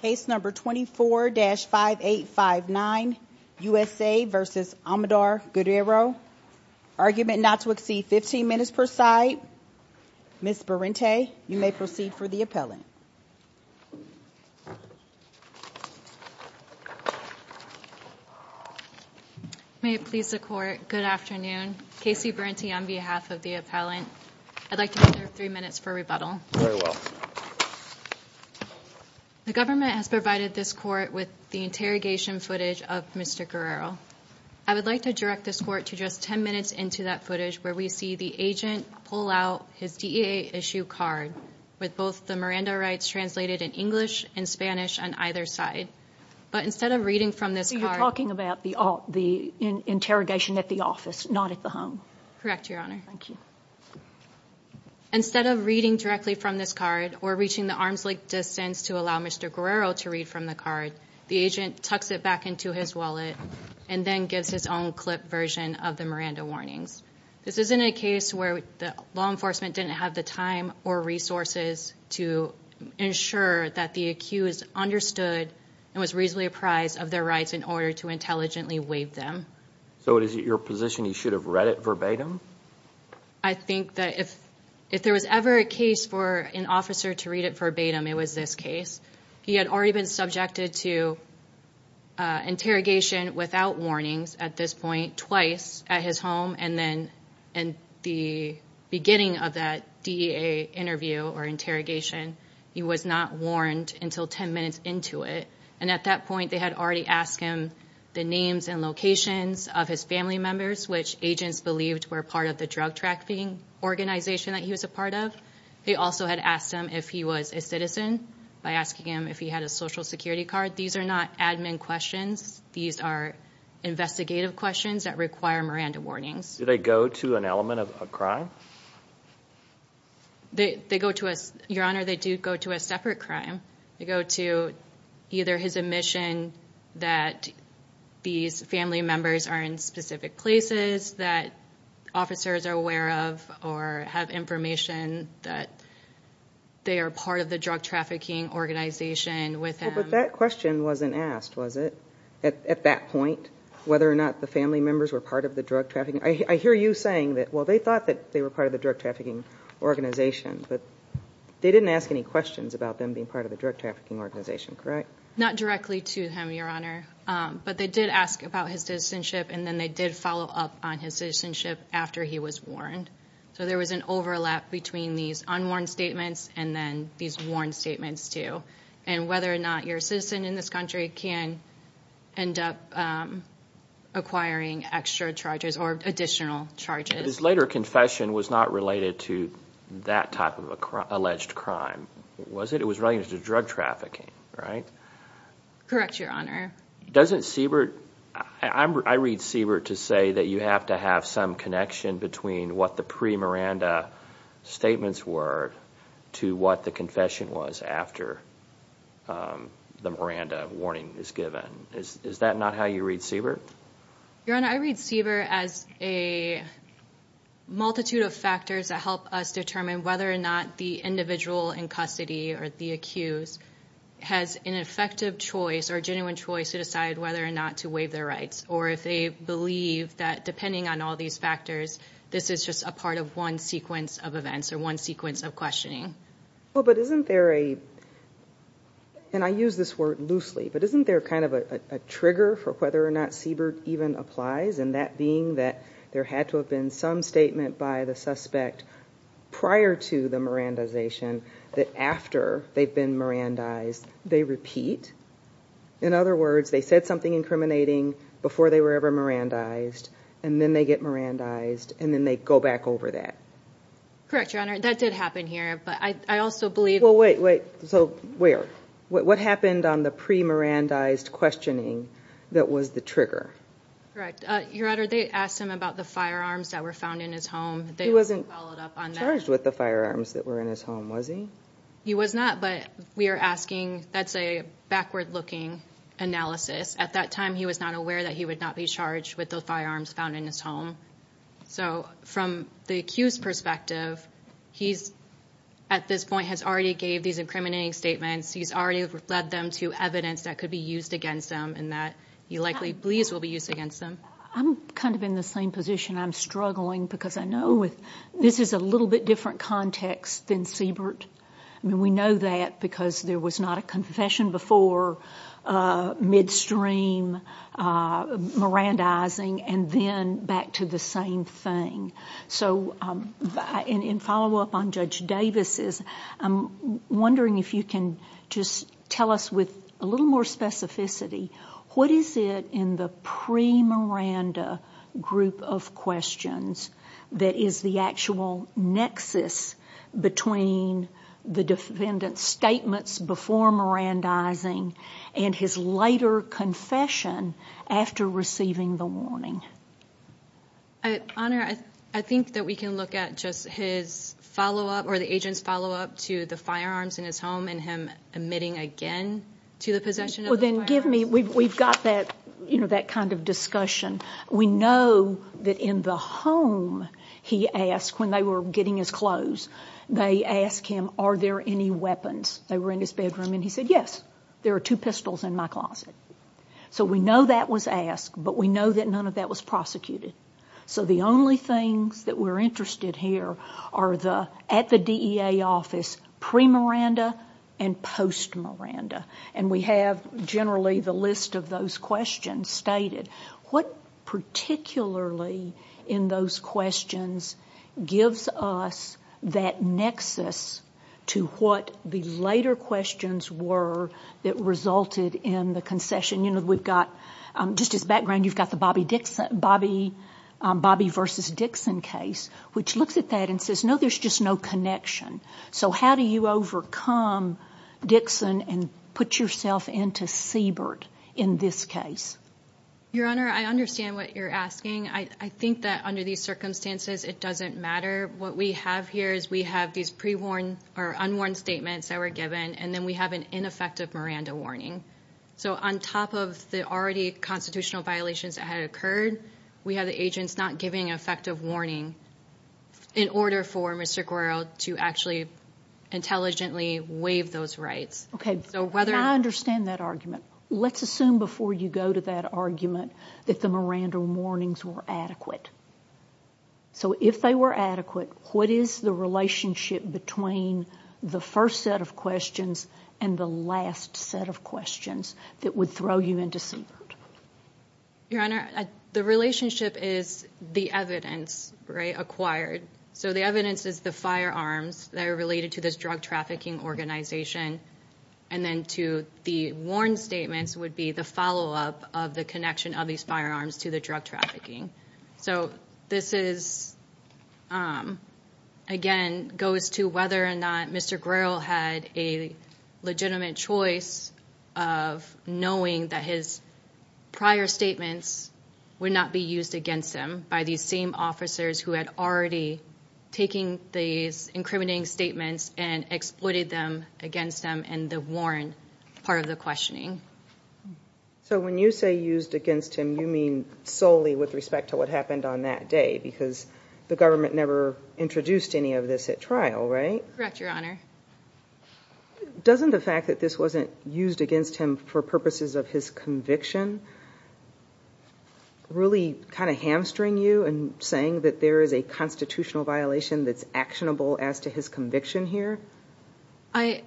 case number 24-5859 USA vs. Amador Guerrero argument not to exceed 15 minutes per side. Ms. Berente you may proceed for the appellant. May it please the court good afternoon Casey Berente on behalf of the appellant I'd like another three minutes for The government has provided this court with the interrogation footage of Mr. Guerrero. I would like to direct this court to just 10 minutes into that footage where we see the agent pull out his DEA issue card with both the Miranda rights translated in English and Spanish on either side but instead of reading from this card. You're talking about the the interrogation at the office not at home? Correct your honor. Thank you. Instead of reading directly from this card or reaching the arm's length distance to allow Mr. Guerrero to read from the card the agent tucks it back into his wallet and then gives his own clip version of the Miranda warnings. This isn't a case where the law enforcement didn't have the time or resources to ensure that the accused understood and was reasonably apprised of their rights in order to intelligently waive them. So is it your position he should have read it verbatim? I think that if if there was ever a case for an officer to read it verbatim it was this case. He had already been subjected to interrogation without warnings at this point twice at his home and then and the beginning of that DEA interview or interrogation he was not warned until 10 minutes into it and at that point they had already asked him the names and locations of his family members which agents believed were part of the drug trafficking organization that he was a part of. They also had asked him if he was a citizen by asking him if he had a social security card. These are not admin questions. These are investigative questions that require Miranda warnings. Do they go to an element of a crime? They they go to us your honor they do go to a separate crime. They go to either his admission that these family members are in specific places that officers are aware of or have information that they are part of the drug trafficking organization with him. But that question wasn't asked was it? At that point whether or not the family members were part of the drug trafficking. I hear you saying that well they thought that they were part of the drug trafficking organization but they didn't ask any questions about them being part of the drug trafficking organization correct? Not directly to him your honor but they did ask about his citizenship and then they did follow up on his citizenship after he was warned. So there was an overlap between these unwarned statements and then these warned statements too and whether or not your citizen in this country can end up acquiring extra charges or additional charges. This later confession was not related to that type of alleged crime was it? It was related to drug trafficking right? Correct your honor. Doesn't Siebert, I read Siebert to say that you have to have some connection between what the pre Miranda statements were to what the confession was after the Miranda warning is given. Is that not how you read Siebert? Your honor I read Siebert as a multitude of factors that help us determine whether or not the individual in custody or the accused has an effective choice or genuine choice to decide whether or not to waive their rights or if they believe that depending on all these factors this is just a part of one sequence of events or one sequence of questioning. Well but isn't there a and I use this word loosely but isn't there kind of a trigger for whether or not Siebert even applies and that being that there had to have been some statement by the suspect prior to the Mirandization that after they've been Mirandized they repeat. In other words they said something incriminating before they were ever Mirandized and then they get Mirandized and then they go back over that. Correct your honor that did happen here but I also believe. Well wait wait so where what happened on the pre Mirandized questioning that was the trigger? Correct your honor they asked him about the firearms that were found in his home. He wasn't charged with the firearms that were in his home was he? He was not but we are asking that's a backward looking analysis at that time he was not aware that he would not be charged with the firearms found in his home so from the accused perspective he's at this point has already gave these incriminating statements he's already led them to evidence that could be used against them and that he likely believes will be used against them. I'm kind of in the same position I'm struggling because I know with this is a little bit different context than Siebert I mean we know that because there was not a confession before midstream Mirandizing and then back to the same thing so in follow up on Judge Davis's I'm wondering if you can just tell us with a little more specificity what is it in the pre Miranda group of questions that is the actual nexus between the defendant's statements before Mirandizing and his later confession after receiving the warning? I think that we can look at just his follow-up or the agent's follow-up to the firearms in his home and him admitting again to the possession. Well then give me we've got that you know that kind of discussion we know that in the home he asked when they were getting his clothes they asked him are there any weapons they were in his bedroom and he said yes there are two pistols in my closet so we know that was asked but we know that none of that was prosecuted so the only things that we're interested here are the at the DEA office pre Miranda and post Miranda and we have generally the list of those questions stated what particularly in those questions gives us that nexus to what the later questions were that resulted in the concession you know we've got just as background you've got the Bobby Dixon Bobby Bobby versus Dixon case which looks at that and says no there's just no connection so how do you overcome Dixon and put yourself into Siebert in this case? Your Honor I understand what you're asking I think that under these circumstances it doesn't matter what we have here is we have these pre-warn or unwarned statements that were given and then we have an ineffective Miranda warning so on top of the already constitutional violations that had occurred we have the agents not giving effective warning in order for Mr. Guerrero to actually intelligently waive those rights okay so whether I understand that argument let's assume before you go to that argument that the Miranda warnings were adequate so if they were adequate what is the relationship between the first set of questions and the last set of questions that would throw you into Siebert? Your Honor the relationship is the evidence right acquired so the evidence is the firearms that are related to this drug trafficking organization and then to the warn statements would be the follow-up of the connection of these firearms to the drug trafficking so this is again goes to whether or not Mr. Guerrero had a legitimate choice of knowing that his prior statements would not be used against him by these same officers who had already taken these incriminating statements and exploited them against them and the warn part of the questioning. So when you say used against him you mean solely with respect to what happened on that day because the government never introduced any of this at trial right? Correct Your Honor. Doesn't the fact that this wasn't used against him for purposes of his conviction really kind of hamstring you and saying that there is a constitutional violation that's actionable as to his conviction here?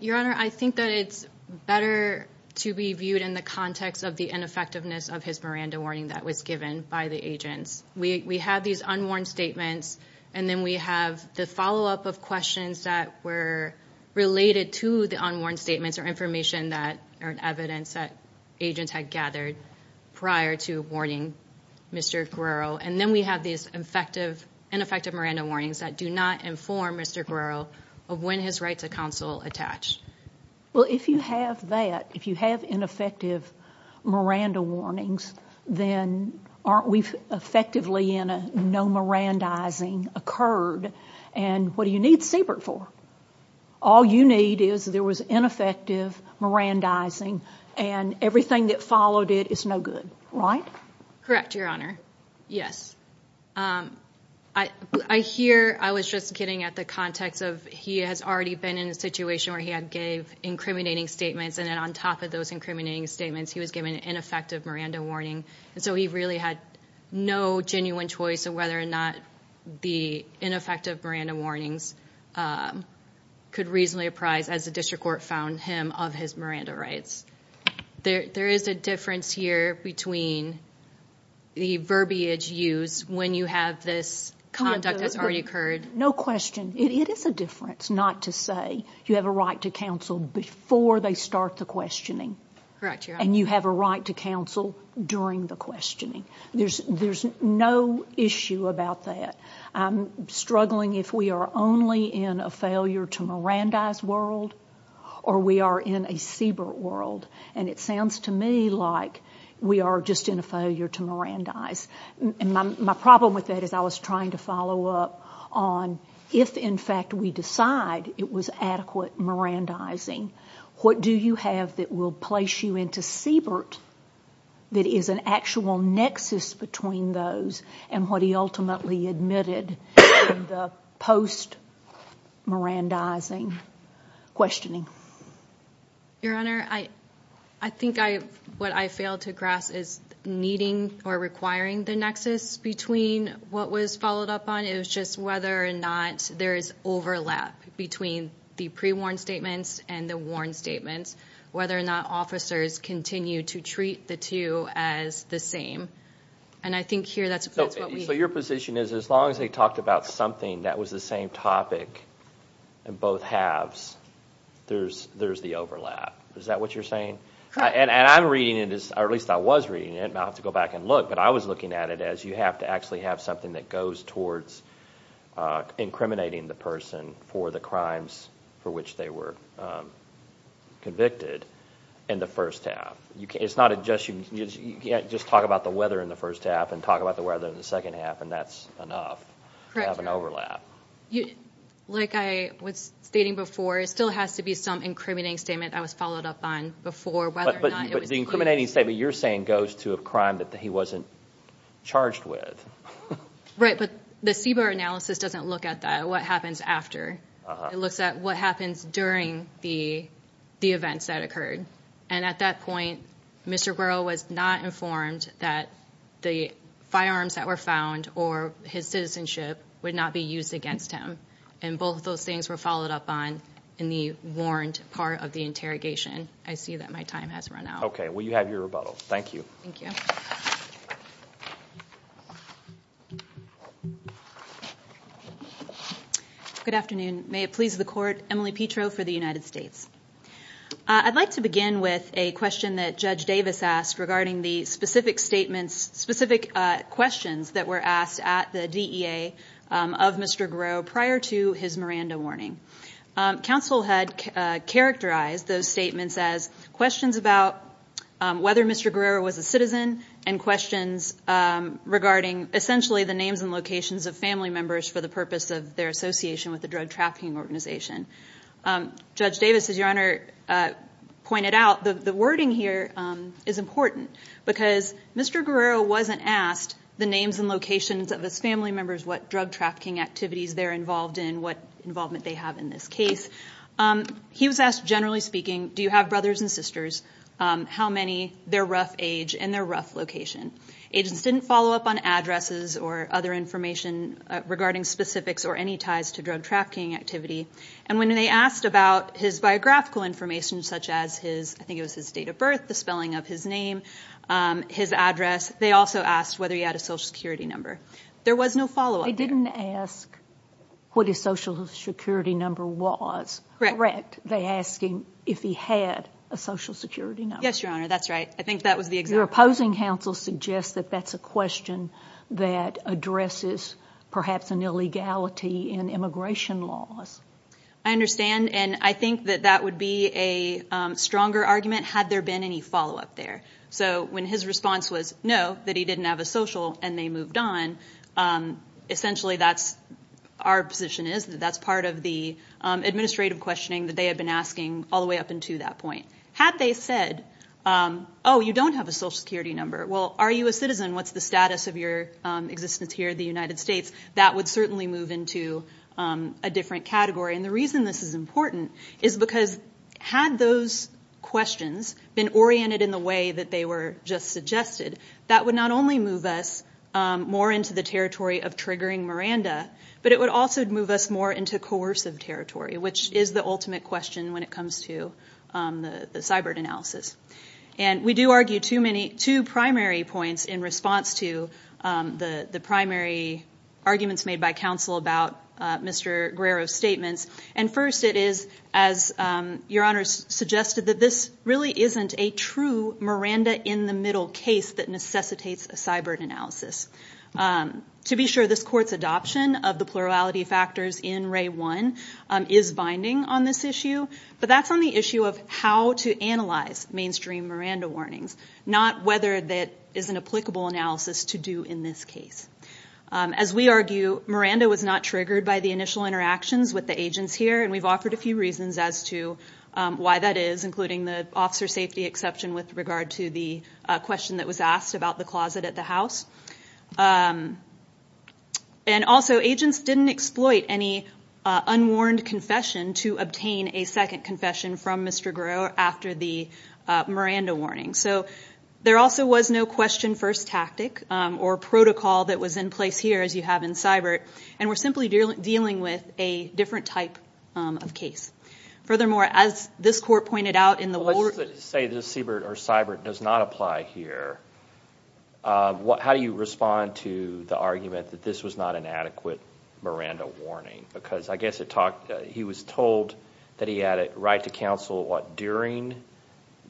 Your Honor I think that it's better to be viewed in the context of the ineffectiveness of his Miranda warning that was given by the agents. We had these unworn statements and then we have the follow-up of questions that were related to the unworn statements or information that are evidence that agents had gathered prior to warning Mr. Guerrero and then we have these ineffective Miranda warnings that do not inform Mr. Guerrero of when his right to counsel attached. Well if you have ineffective Miranda warnings then aren't we effectively in a no Mirandizing occurred and what do you need Siebert for? All you need is there was ineffective Mirandizing and everything that followed it is no good right? Correct Your Honor. Yes I hear I was just getting at the context of he has already been in a situation where he had gave incriminating statements and then on top of those incriminating statements he was given an ineffective Miranda warning and so he really had no genuine choice of whether or not the ineffective Miranda warnings could reasonably apprise as the district court found him of his Miranda rights. There is a difference here between the verbiage used when you have this conduct that has already occurred. No question it is a difference not to say you have a right to counsel before they start the questioning and you have a right to counsel during the questioning. There's no issue about that. I'm struggling if we are only in a failure to Mirandize world or we are in a Siebert world and it sounds to me like we are just in a failure to Mirandize and my problem with that is I was trying to follow up on if in fact we decide it was adequate Mirandizing what do you have that will place you into Siebert that is an actual nexus between those and what he ultimately admitted in the post Mirandizing questioning. Your Honor I I think I what I failed to grasp is needing or requiring the nexus between what was followed up on is just whether or not there is overlap between the pre-warn statements and the warn statements whether or not officers continue to treat the two as the same and I think here that's what we... So your position is as long as they talked about something that was the same topic in both halves there's there's the overlap is that what you're saying and I'm reading it as or at least I was reading it I'll have to go back and look but I was looking at it as you have to actually have something that goes towards incriminating the person for the crimes for which they were convicted in the first half you can't it's not a just you can't just talk about the weather in the first half and talk about the weather in the second half and that's enough have an overlap. You like I was stating before it still has to be some incriminating statement I was followed up on before but the incriminating statement you're saying goes to a crime that he wasn't charged with. Right but the CBER analysis doesn't look at that what happens after it looks at what happens during the the events that occurred and at that point Mr. Burrow was not informed that the firearms that were found or his citizenship would not be used against him and both of those things were followed up on in the warned part of the interrogation I see that my time has run out. Okay well you have your rebuttal. Thank you. Good afternoon may it please the court Emily Petro for the United States. I'd like to begin with a question that Judge Davis asked regarding the specific statements specific questions that were asked at the DEA of Mr. Gros prior to his Miranda warning. Counsel had characterized those statements as questions about whether Mr. Guerrero was a citizen and questions regarding essentially the names and locations of family members for the purpose of their association with the drug trafficking organization. Judge Davis as your honor pointed out the the wording here is important because Mr. Guerrero wasn't asked the names and locations of his family members what drug trafficking activities they're involved in what involvement they have in this case. He was asked generally speaking do you have brothers and sisters how many their rough age and their rough location. Agents didn't follow up on addresses or other information regarding specifics or any ties to drug trafficking activity and when they asked about his biographical information such as his I think it was his date of birth the spelling of his name his address they also asked whether he had a social security number. There was no follow-up. They didn't ask what his social security number was correct they asked him if he had a social security number. Yes your honor that's right I think that was the exact. Your opposing counsel suggests that that's a question that addresses perhaps an illegality in immigration laws. I understand and I think that that would be a stronger argument had there been any follow-up there. So when his response was no that he didn't have a social and they moved on essentially that's our position is that that's part of the administrative questioning that they had been asking all the way up into that point. Had they said oh you don't have a social security number well are you a citizen what's the status of your existence here the United States that would certainly move into a different category and the reason this is important is because had those questions been oriented in the way that they were just suggested that would not only move us more into the territory of triggering Miranda but it would also move us more into coercive territory which is the ultimate question when it comes to the the cyber analysis and we do argue too many two primary points in response to the the primary arguments made by counsel about Mr. Guerrero's statements and first it is as your honors suggested that this really isn't a true Miranda in the middle case that necessitates a cyber analysis. To be sure this court's adoption of the plurality factors in Ray 1 is binding on this issue but that's on the issue of how to analyze mainstream Miranda warnings not whether that is an applicable analysis to do in this case. As we argue Miranda was not triggered by the initial interactions with the agents here and we've offered a few reasons as to why that is including the officer safety exception with regard to the question that was asked about the closet at the house and also agents didn't exploit any unwarned confession to obtain a second confession from Mr. Guerrero after the Miranda warning so there also was no question first tactic or protocol that was in place here as you have in CYBIRT and we're simply dealing with a different type of case. Furthermore as this court pointed out in the... Say this CYBIRT or CYBIRT does not apply here what how do you respond to the argument that this was not an adequate Miranda warning because I guess it talked he was told that he had it right to counsel what during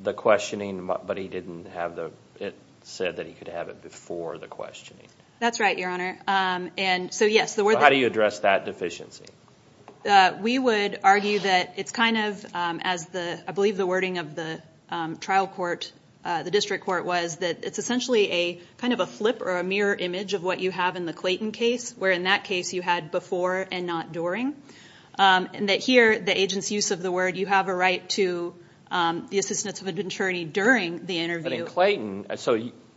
the questioning but he didn't have the it said that he could have it before the questioning. That's right your honor and so yes. How do you address that deficiency? We would argue that it's kind of as the I believe the wording of the trial court the district court was that it's essentially a kind of a flip or a mirror image of what you have in the Clayton case where in that case you had before and not during and that here the agents use of the word you have a right to the assistance of an attorney during the interview. But in Clayton so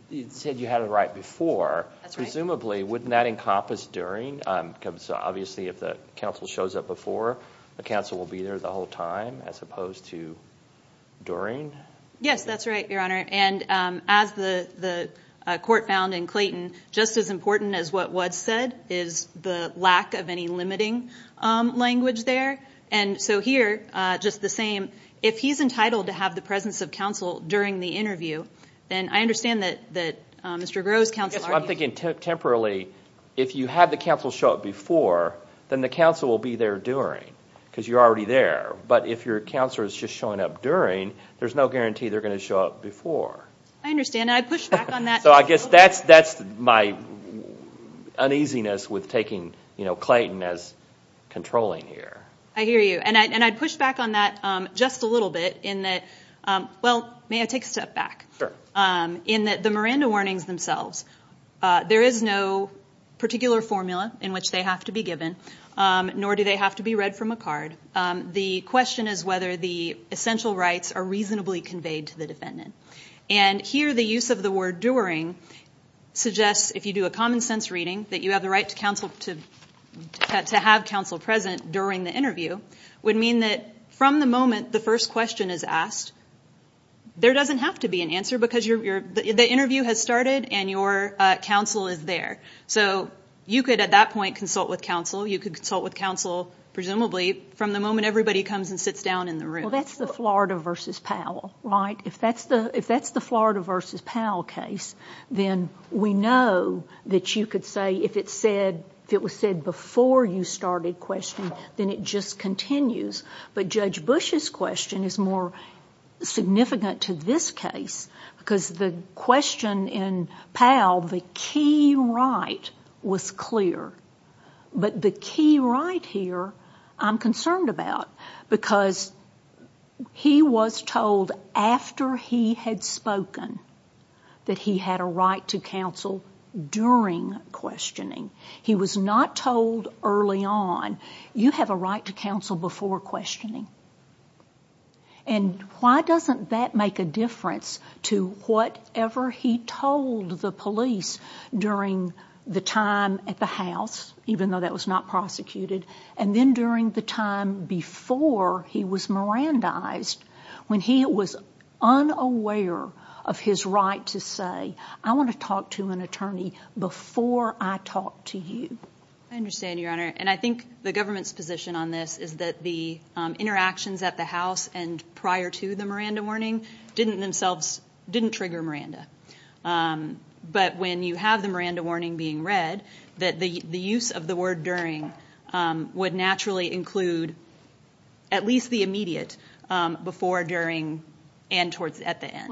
you said you had it right before presumably wouldn't that encompass during because obviously if the counsel shows up before the counsel will be there the whole time as opposed to during? Yes that's right your honor and as the the court found in Clayton just as important as what was said is the lack of any limiting language there and so here just the same if he's entitled to have the presence of counsel during the interview then I understand that that Mr. Grose counsel. I'm thinking temporarily if you have the counsel show up before then the counsel will be there during because you're already there but if your counselor is just showing up during there's no guarantee they're going to show up before. I understand I push back on that. So I guess that's that's my uneasiness with taking you Clayton as controlling here. I hear you and I'd push back on that just a little bit in that well may I take a step back. Sure. In that the Miranda warnings themselves there is no particular formula in which they have to be given nor do they have to be read from a card. The question is whether the essential rights are reasonably conveyed to the defendant and here the use of the word during suggests if you do a common-sense reading that you have the right to have counsel present during the interview would mean that from the moment the first question is asked there doesn't have to be an answer because the interview has started and your counsel is there so you could at that point consult with counsel you could consult with counsel presumably from the moment everybody comes and sits down in the room. That's the Florida versus Powell right if that's the if that's the Florida versus Powell case then we know that you could say if it said if it was said before you started questioning then it just continues but Judge Bush's question is more significant to this case because the question in Powell the key right was clear but the key right here I'm concerned about because he was told after he had spoken that he had a right to counsel during questioning he was not told early on you have a right to counsel before questioning and why doesn't that make a difference to whatever he told the police during the time at the house even though that was not prosecuted and then during the time before he was Miranda eyes when he was unaware of his right to say I want to talk to an attorney before I talk to you understand your honor and I think the government's position on this is that the interactions at the house and prior to the Miranda warning didn't themselves didn't trigger Miranda but when you have the Miranda warning being read that the the use of the word during would naturally include at least the immediate before during and towards at the end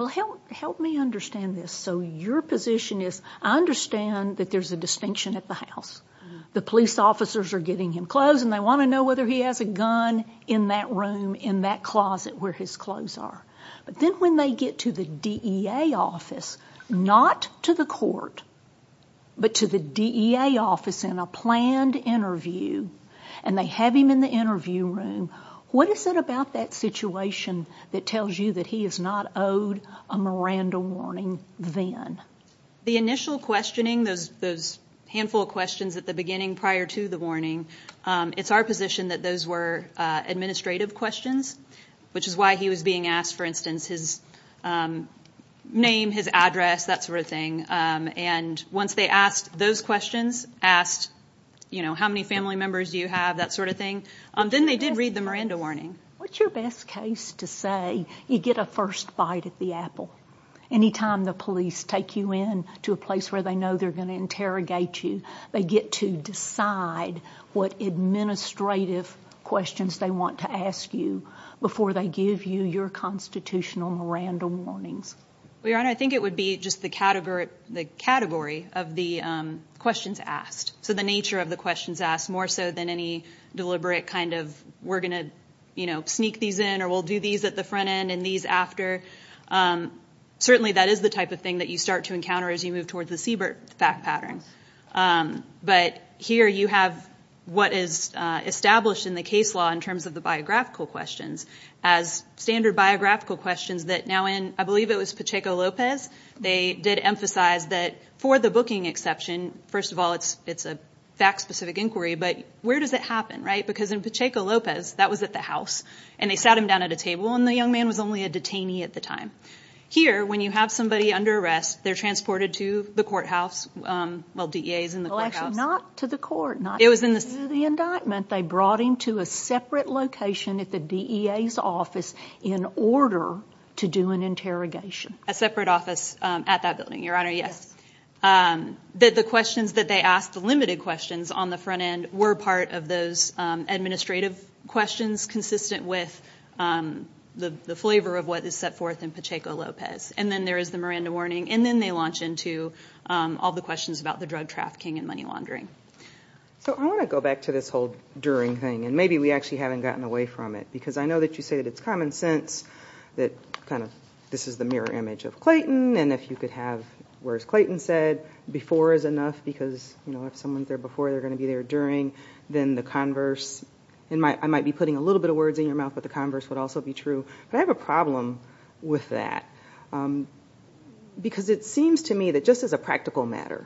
help me understand this so your position is I understand that there's a distinction at the house the police officers are getting him clothes and I want to know whether he has a gun in that room in that closet where his clothes are but then when they get to the DEA office not to the court but to DEA office in a planned interview and they have him in the interview room what is it about that situation that tells you that he is not owed a Miranda warning then the initial questioning those those handful of questions at the beginning prior to the warning it's our position that those were administrative questions which is why he was being asked for instance his name his address that sort of thing and once they asked those questions asked you know how many family members you have that sort of thing then they did read the Miranda warning what's your best case to say you get a first bite at the apple anytime the police take you in to a place where they know they're going to interrogate you they get to decide what administrative questions they want to ask you before they give you your constitutional Miranda warnings we are I think it would be just the category of the questions asked so the nature of the questions asked more so than any deliberate kind of we're going to you know sneak these in or we'll do these at the front end and these after certainly that is the type of thing that you start to encounter as you move towards the Siebert fact pattern but here you have what is established in the case law in terms of the biographical questions as standard biographical questions that now and I believe it was Pacheco Lopez they did emphasize that for the booking exception first of all it's it's a fact-specific inquiry but where does it happen right because in Pacheco Lopez that was at the house and they sat him down at a table and the young man was only a detainee at the time here when you have somebody under arrest they're transported to the courthouse well DEA's in the courthouse not to the court not it was in the indictment they brought him to a separate location at the DEA's office in order to do an interrogation a separate office at that building your honor yes that the questions that they asked the limited questions on the front end were part of those administrative questions consistent with the flavor of what is set forth in Pacheco Lopez and then there is the Miranda warning and then they launch into all the questions about the drug trafficking and money laundering so I want to go back to this whole during thing and maybe we actually haven't gotten away from it because I know that you say that it's common sense that kind of this is the mirror image of Clayton and if you could have where's Clayton said before is enough because you know if someone's there before they're going to be there during then the converse and my I might be putting a little bit of words in your mouth but the converse would also be true but I have a problem with that because it seems to me that just as a practical matter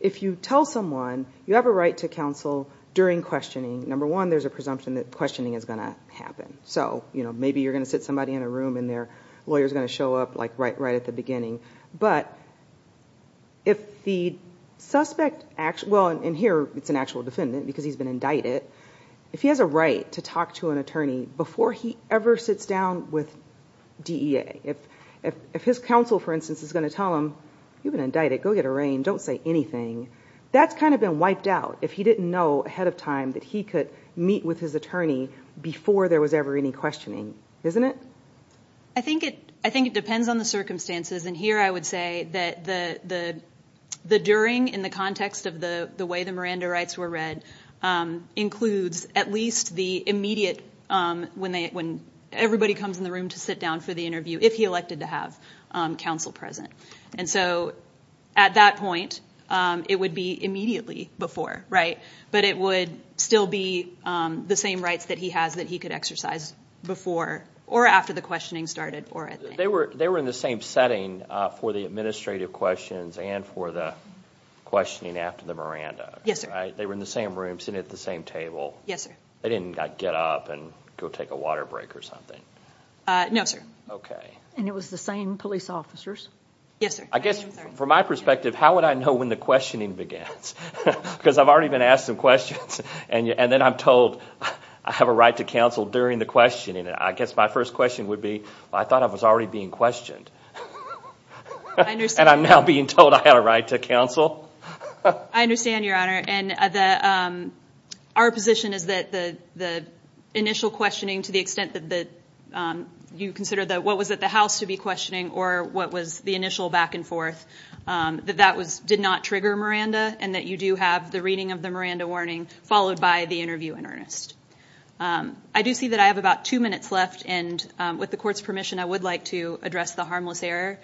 if you tell someone you have a right to counsel during questioning number one there's a presumption that questioning is going to happen so you know maybe you're going to sit somebody in a room in there lawyers going to show up like right right at the beginning but if the suspect actually in here it's an actual defendant because he's been indicted if he has a right to talk to an attorney before he ever sits down with DEA if if his counsel for instance is going to tell him you've been indicted go get a rain don't say anything that's kind of been wiped out if he didn't know ahead of time that he could meet with his attorney before there was ever any questioning isn't it I think it I think it depends on the circumstances and here I would say that the the the during in the context of the the way the Miranda rights were read includes at least the immediate when they when everybody comes in the room to sit down for the interview if he elected to have counsel present and so at that point it would be immediately before right but it would still be the same rights that he has that he could exercise before or after the questioning started or they were they were in the same setting for the administrative questions and for the questioning after the Miranda yes they were in the same room sitting at the same table yes I didn't get up and go take a water break or something no sir okay and it was the same police officers yes I guess from my perspective how would I know when the questioning begins because I've already been asked some questions and you and then I'm told I have a right to counsel during the questioning I guess my first question would be I thought I was already being questioned and I'm now being told I had a right to counsel I understand your honor and the our position is that the the initial questioning to the extent that the you consider that what was at the house to be questioning or what was the initial back-and-forth that that was did not trigger Miranda and that you do have the reading of the Miranda warning followed by the interview in earnest I do see that I have about two minutes left and with the court's permission I would like to address the harmless error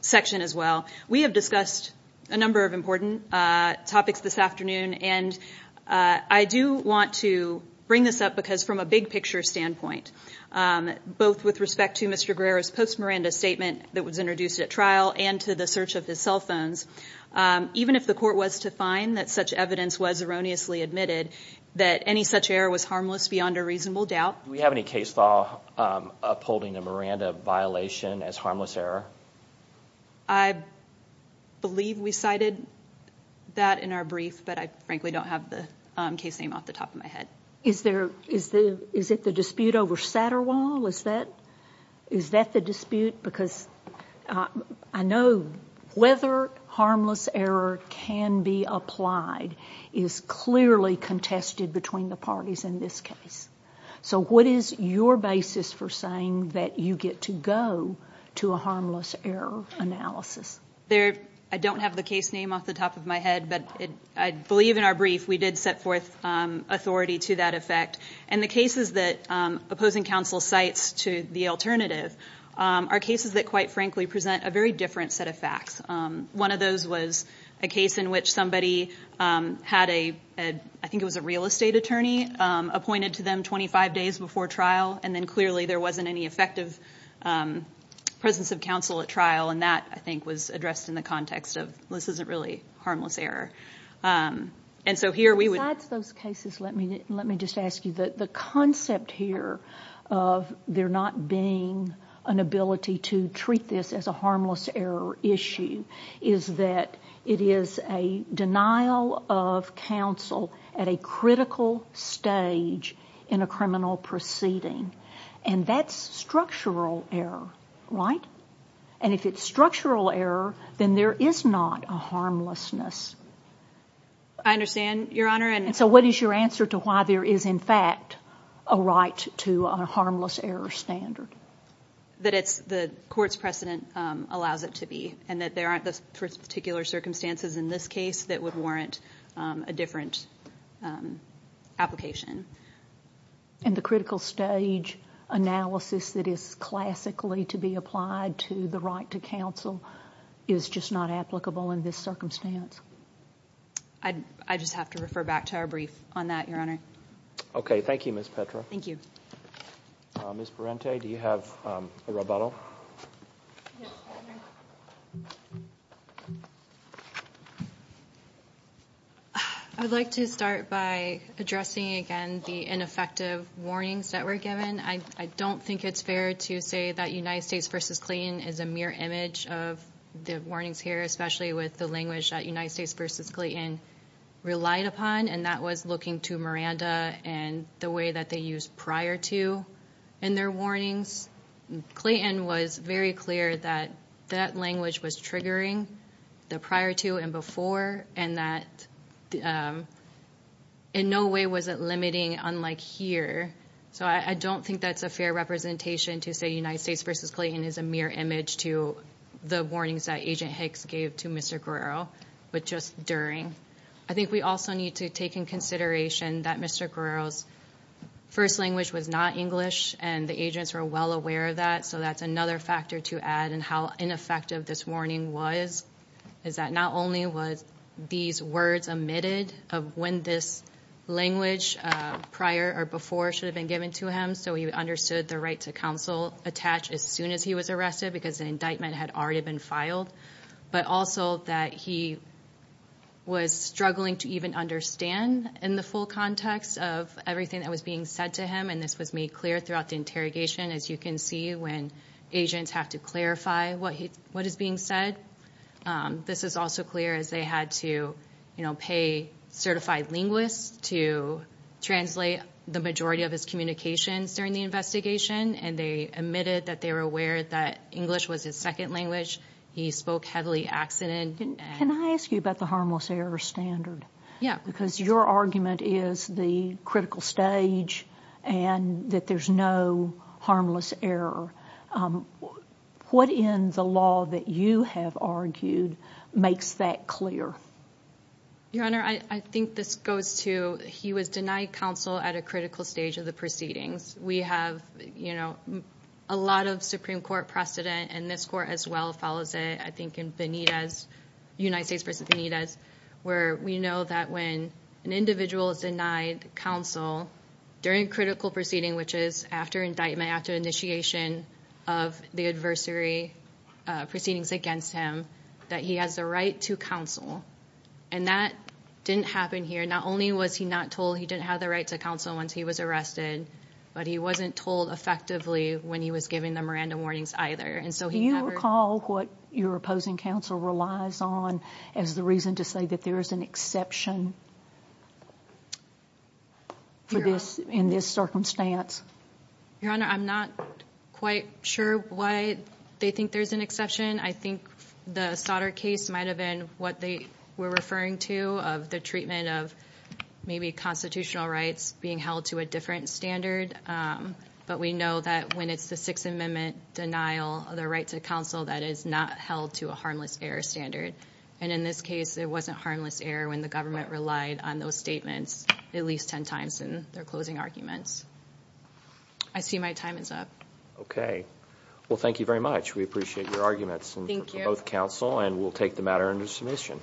section as well we have discussed a number of important topics this afternoon and I do want to bring this up because from a big-picture standpoint both with respect to mr. Greer's post Miranda statement that was introduced at trial and to the search of his cell phones even if the court was to find that such evidence was erroneously admitted that any such error was harmless beyond a reasonable doubt we have any case law upholding the Miranda violation as harmless error I believe we cited that in our brief but I frankly don't have the case name off the top of my head is there is the is it the dispute over Satterwall is that is that the dispute because I know whether harmless error can be applied is clearly contested between the parties in this case so what is your basis for saying that you get to go to a harmless error analysis there I don't have the case name off the top of my head but it I believe in our brief we did set forth authority to that effect and the cases that opposing counsel sites to the alternative are cases that quite frankly present a very different set of facts one of those was a case in which somebody had a I think it was a real estate attorney appointed to them 25 days before trial and then clearly there wasn't any effective presence of counsel at trial and that I think was addressed in the context of this isn't really harmless error and so here we would add those cases let me let me just ask you that the concept here of there not being an ability to treat this as a harmless error issue is that it is a denial of counsel at a critical stage in a criminal proceeding and that's structural error right and if it's structural error then there is not a harmlessness I understand your honor and so what is your answer to why there is in fact a right to a harmless error standard that it's the courts precedent allows it to be and that there aren't those particular circumstances in this case that would warrant a different application and the critical stage analysis that is classically to be applied to the right to counsel is just not applicable in this circumstance I'd I just have to refer back to our brief on that your honor okay thank you miss Petra thank you miss Parente do you have a rebuttal I'd like to start by addressing again the ineffective warnings that were given I don't think it's fair to say that United States versus Clayton is a mere image of the warnings here especially with the language that United States versus Clayton relied upon and that was looking to Miranda and the way that they used prior to and their warnings Clayton was very clear that that language was triggering the prior to and before and that in no way was it limiting unlike here so I don't think that's a fair representation to say United States versus Clayton is a mere image to the warnings that agent Hicks gave to mr. Guerrero but just during I think we also need to take in consideration that mr. Guerrero's first language was not English and the agents were well aware of that so that's another factor to add and how ineffective this warning was is that not only was these words omitted of when this language prior or before should have been given to him so he understood the right to counsel attach as soon as he was arrested because an indictment had already been filed but also that he was struggling to even understand in the full context of everything that was being said to him and this was made clear throughout the interrogation as you can see when agents have to clarify what he what is being said this is also clear as they had to you know pay certified linguists to translate the majority of his communications during the investigation and they admitted that they were aware that English was his second language he spoke heavily accident and can I ask you about the harmless error standard yeah because your argument is the critical stage and that there's no harmless error what in the law that you have argued makes that clear your honor I think this goes to he was denied counsel at a proceedings we have you know a lot of Supreme Court precedent and this court as well follows it I think in Benitez United States versus Benitez where we know that when an individual is denied counsel during critical proceeding which is after indictment after initiation of the adversary proceedings against him that he has the right to counsel and that didn't happen here not only was he not told he didn't have the right to counsel once he was arrested but he wasn't told effectively when he was giving them random warnings either and so he you recall what your opposing counsel relies on as the reason to say that there is an exception for this in this circumstance your honor I'm not quite sure why they think there's an exception I think the solder case might have been what they were referring to of the treatment of maybe constitutional rights being held to a different standard but we know that when it's the Sixth Amendment denial of their right to counsel that is not held to a harmless error standard and in this case it wasn't harmless error when the government relied on those statements at least ten times in their closing arguments I see my time is up okay well thank you very much we appreciate your both counsel and we'll take the matter under submission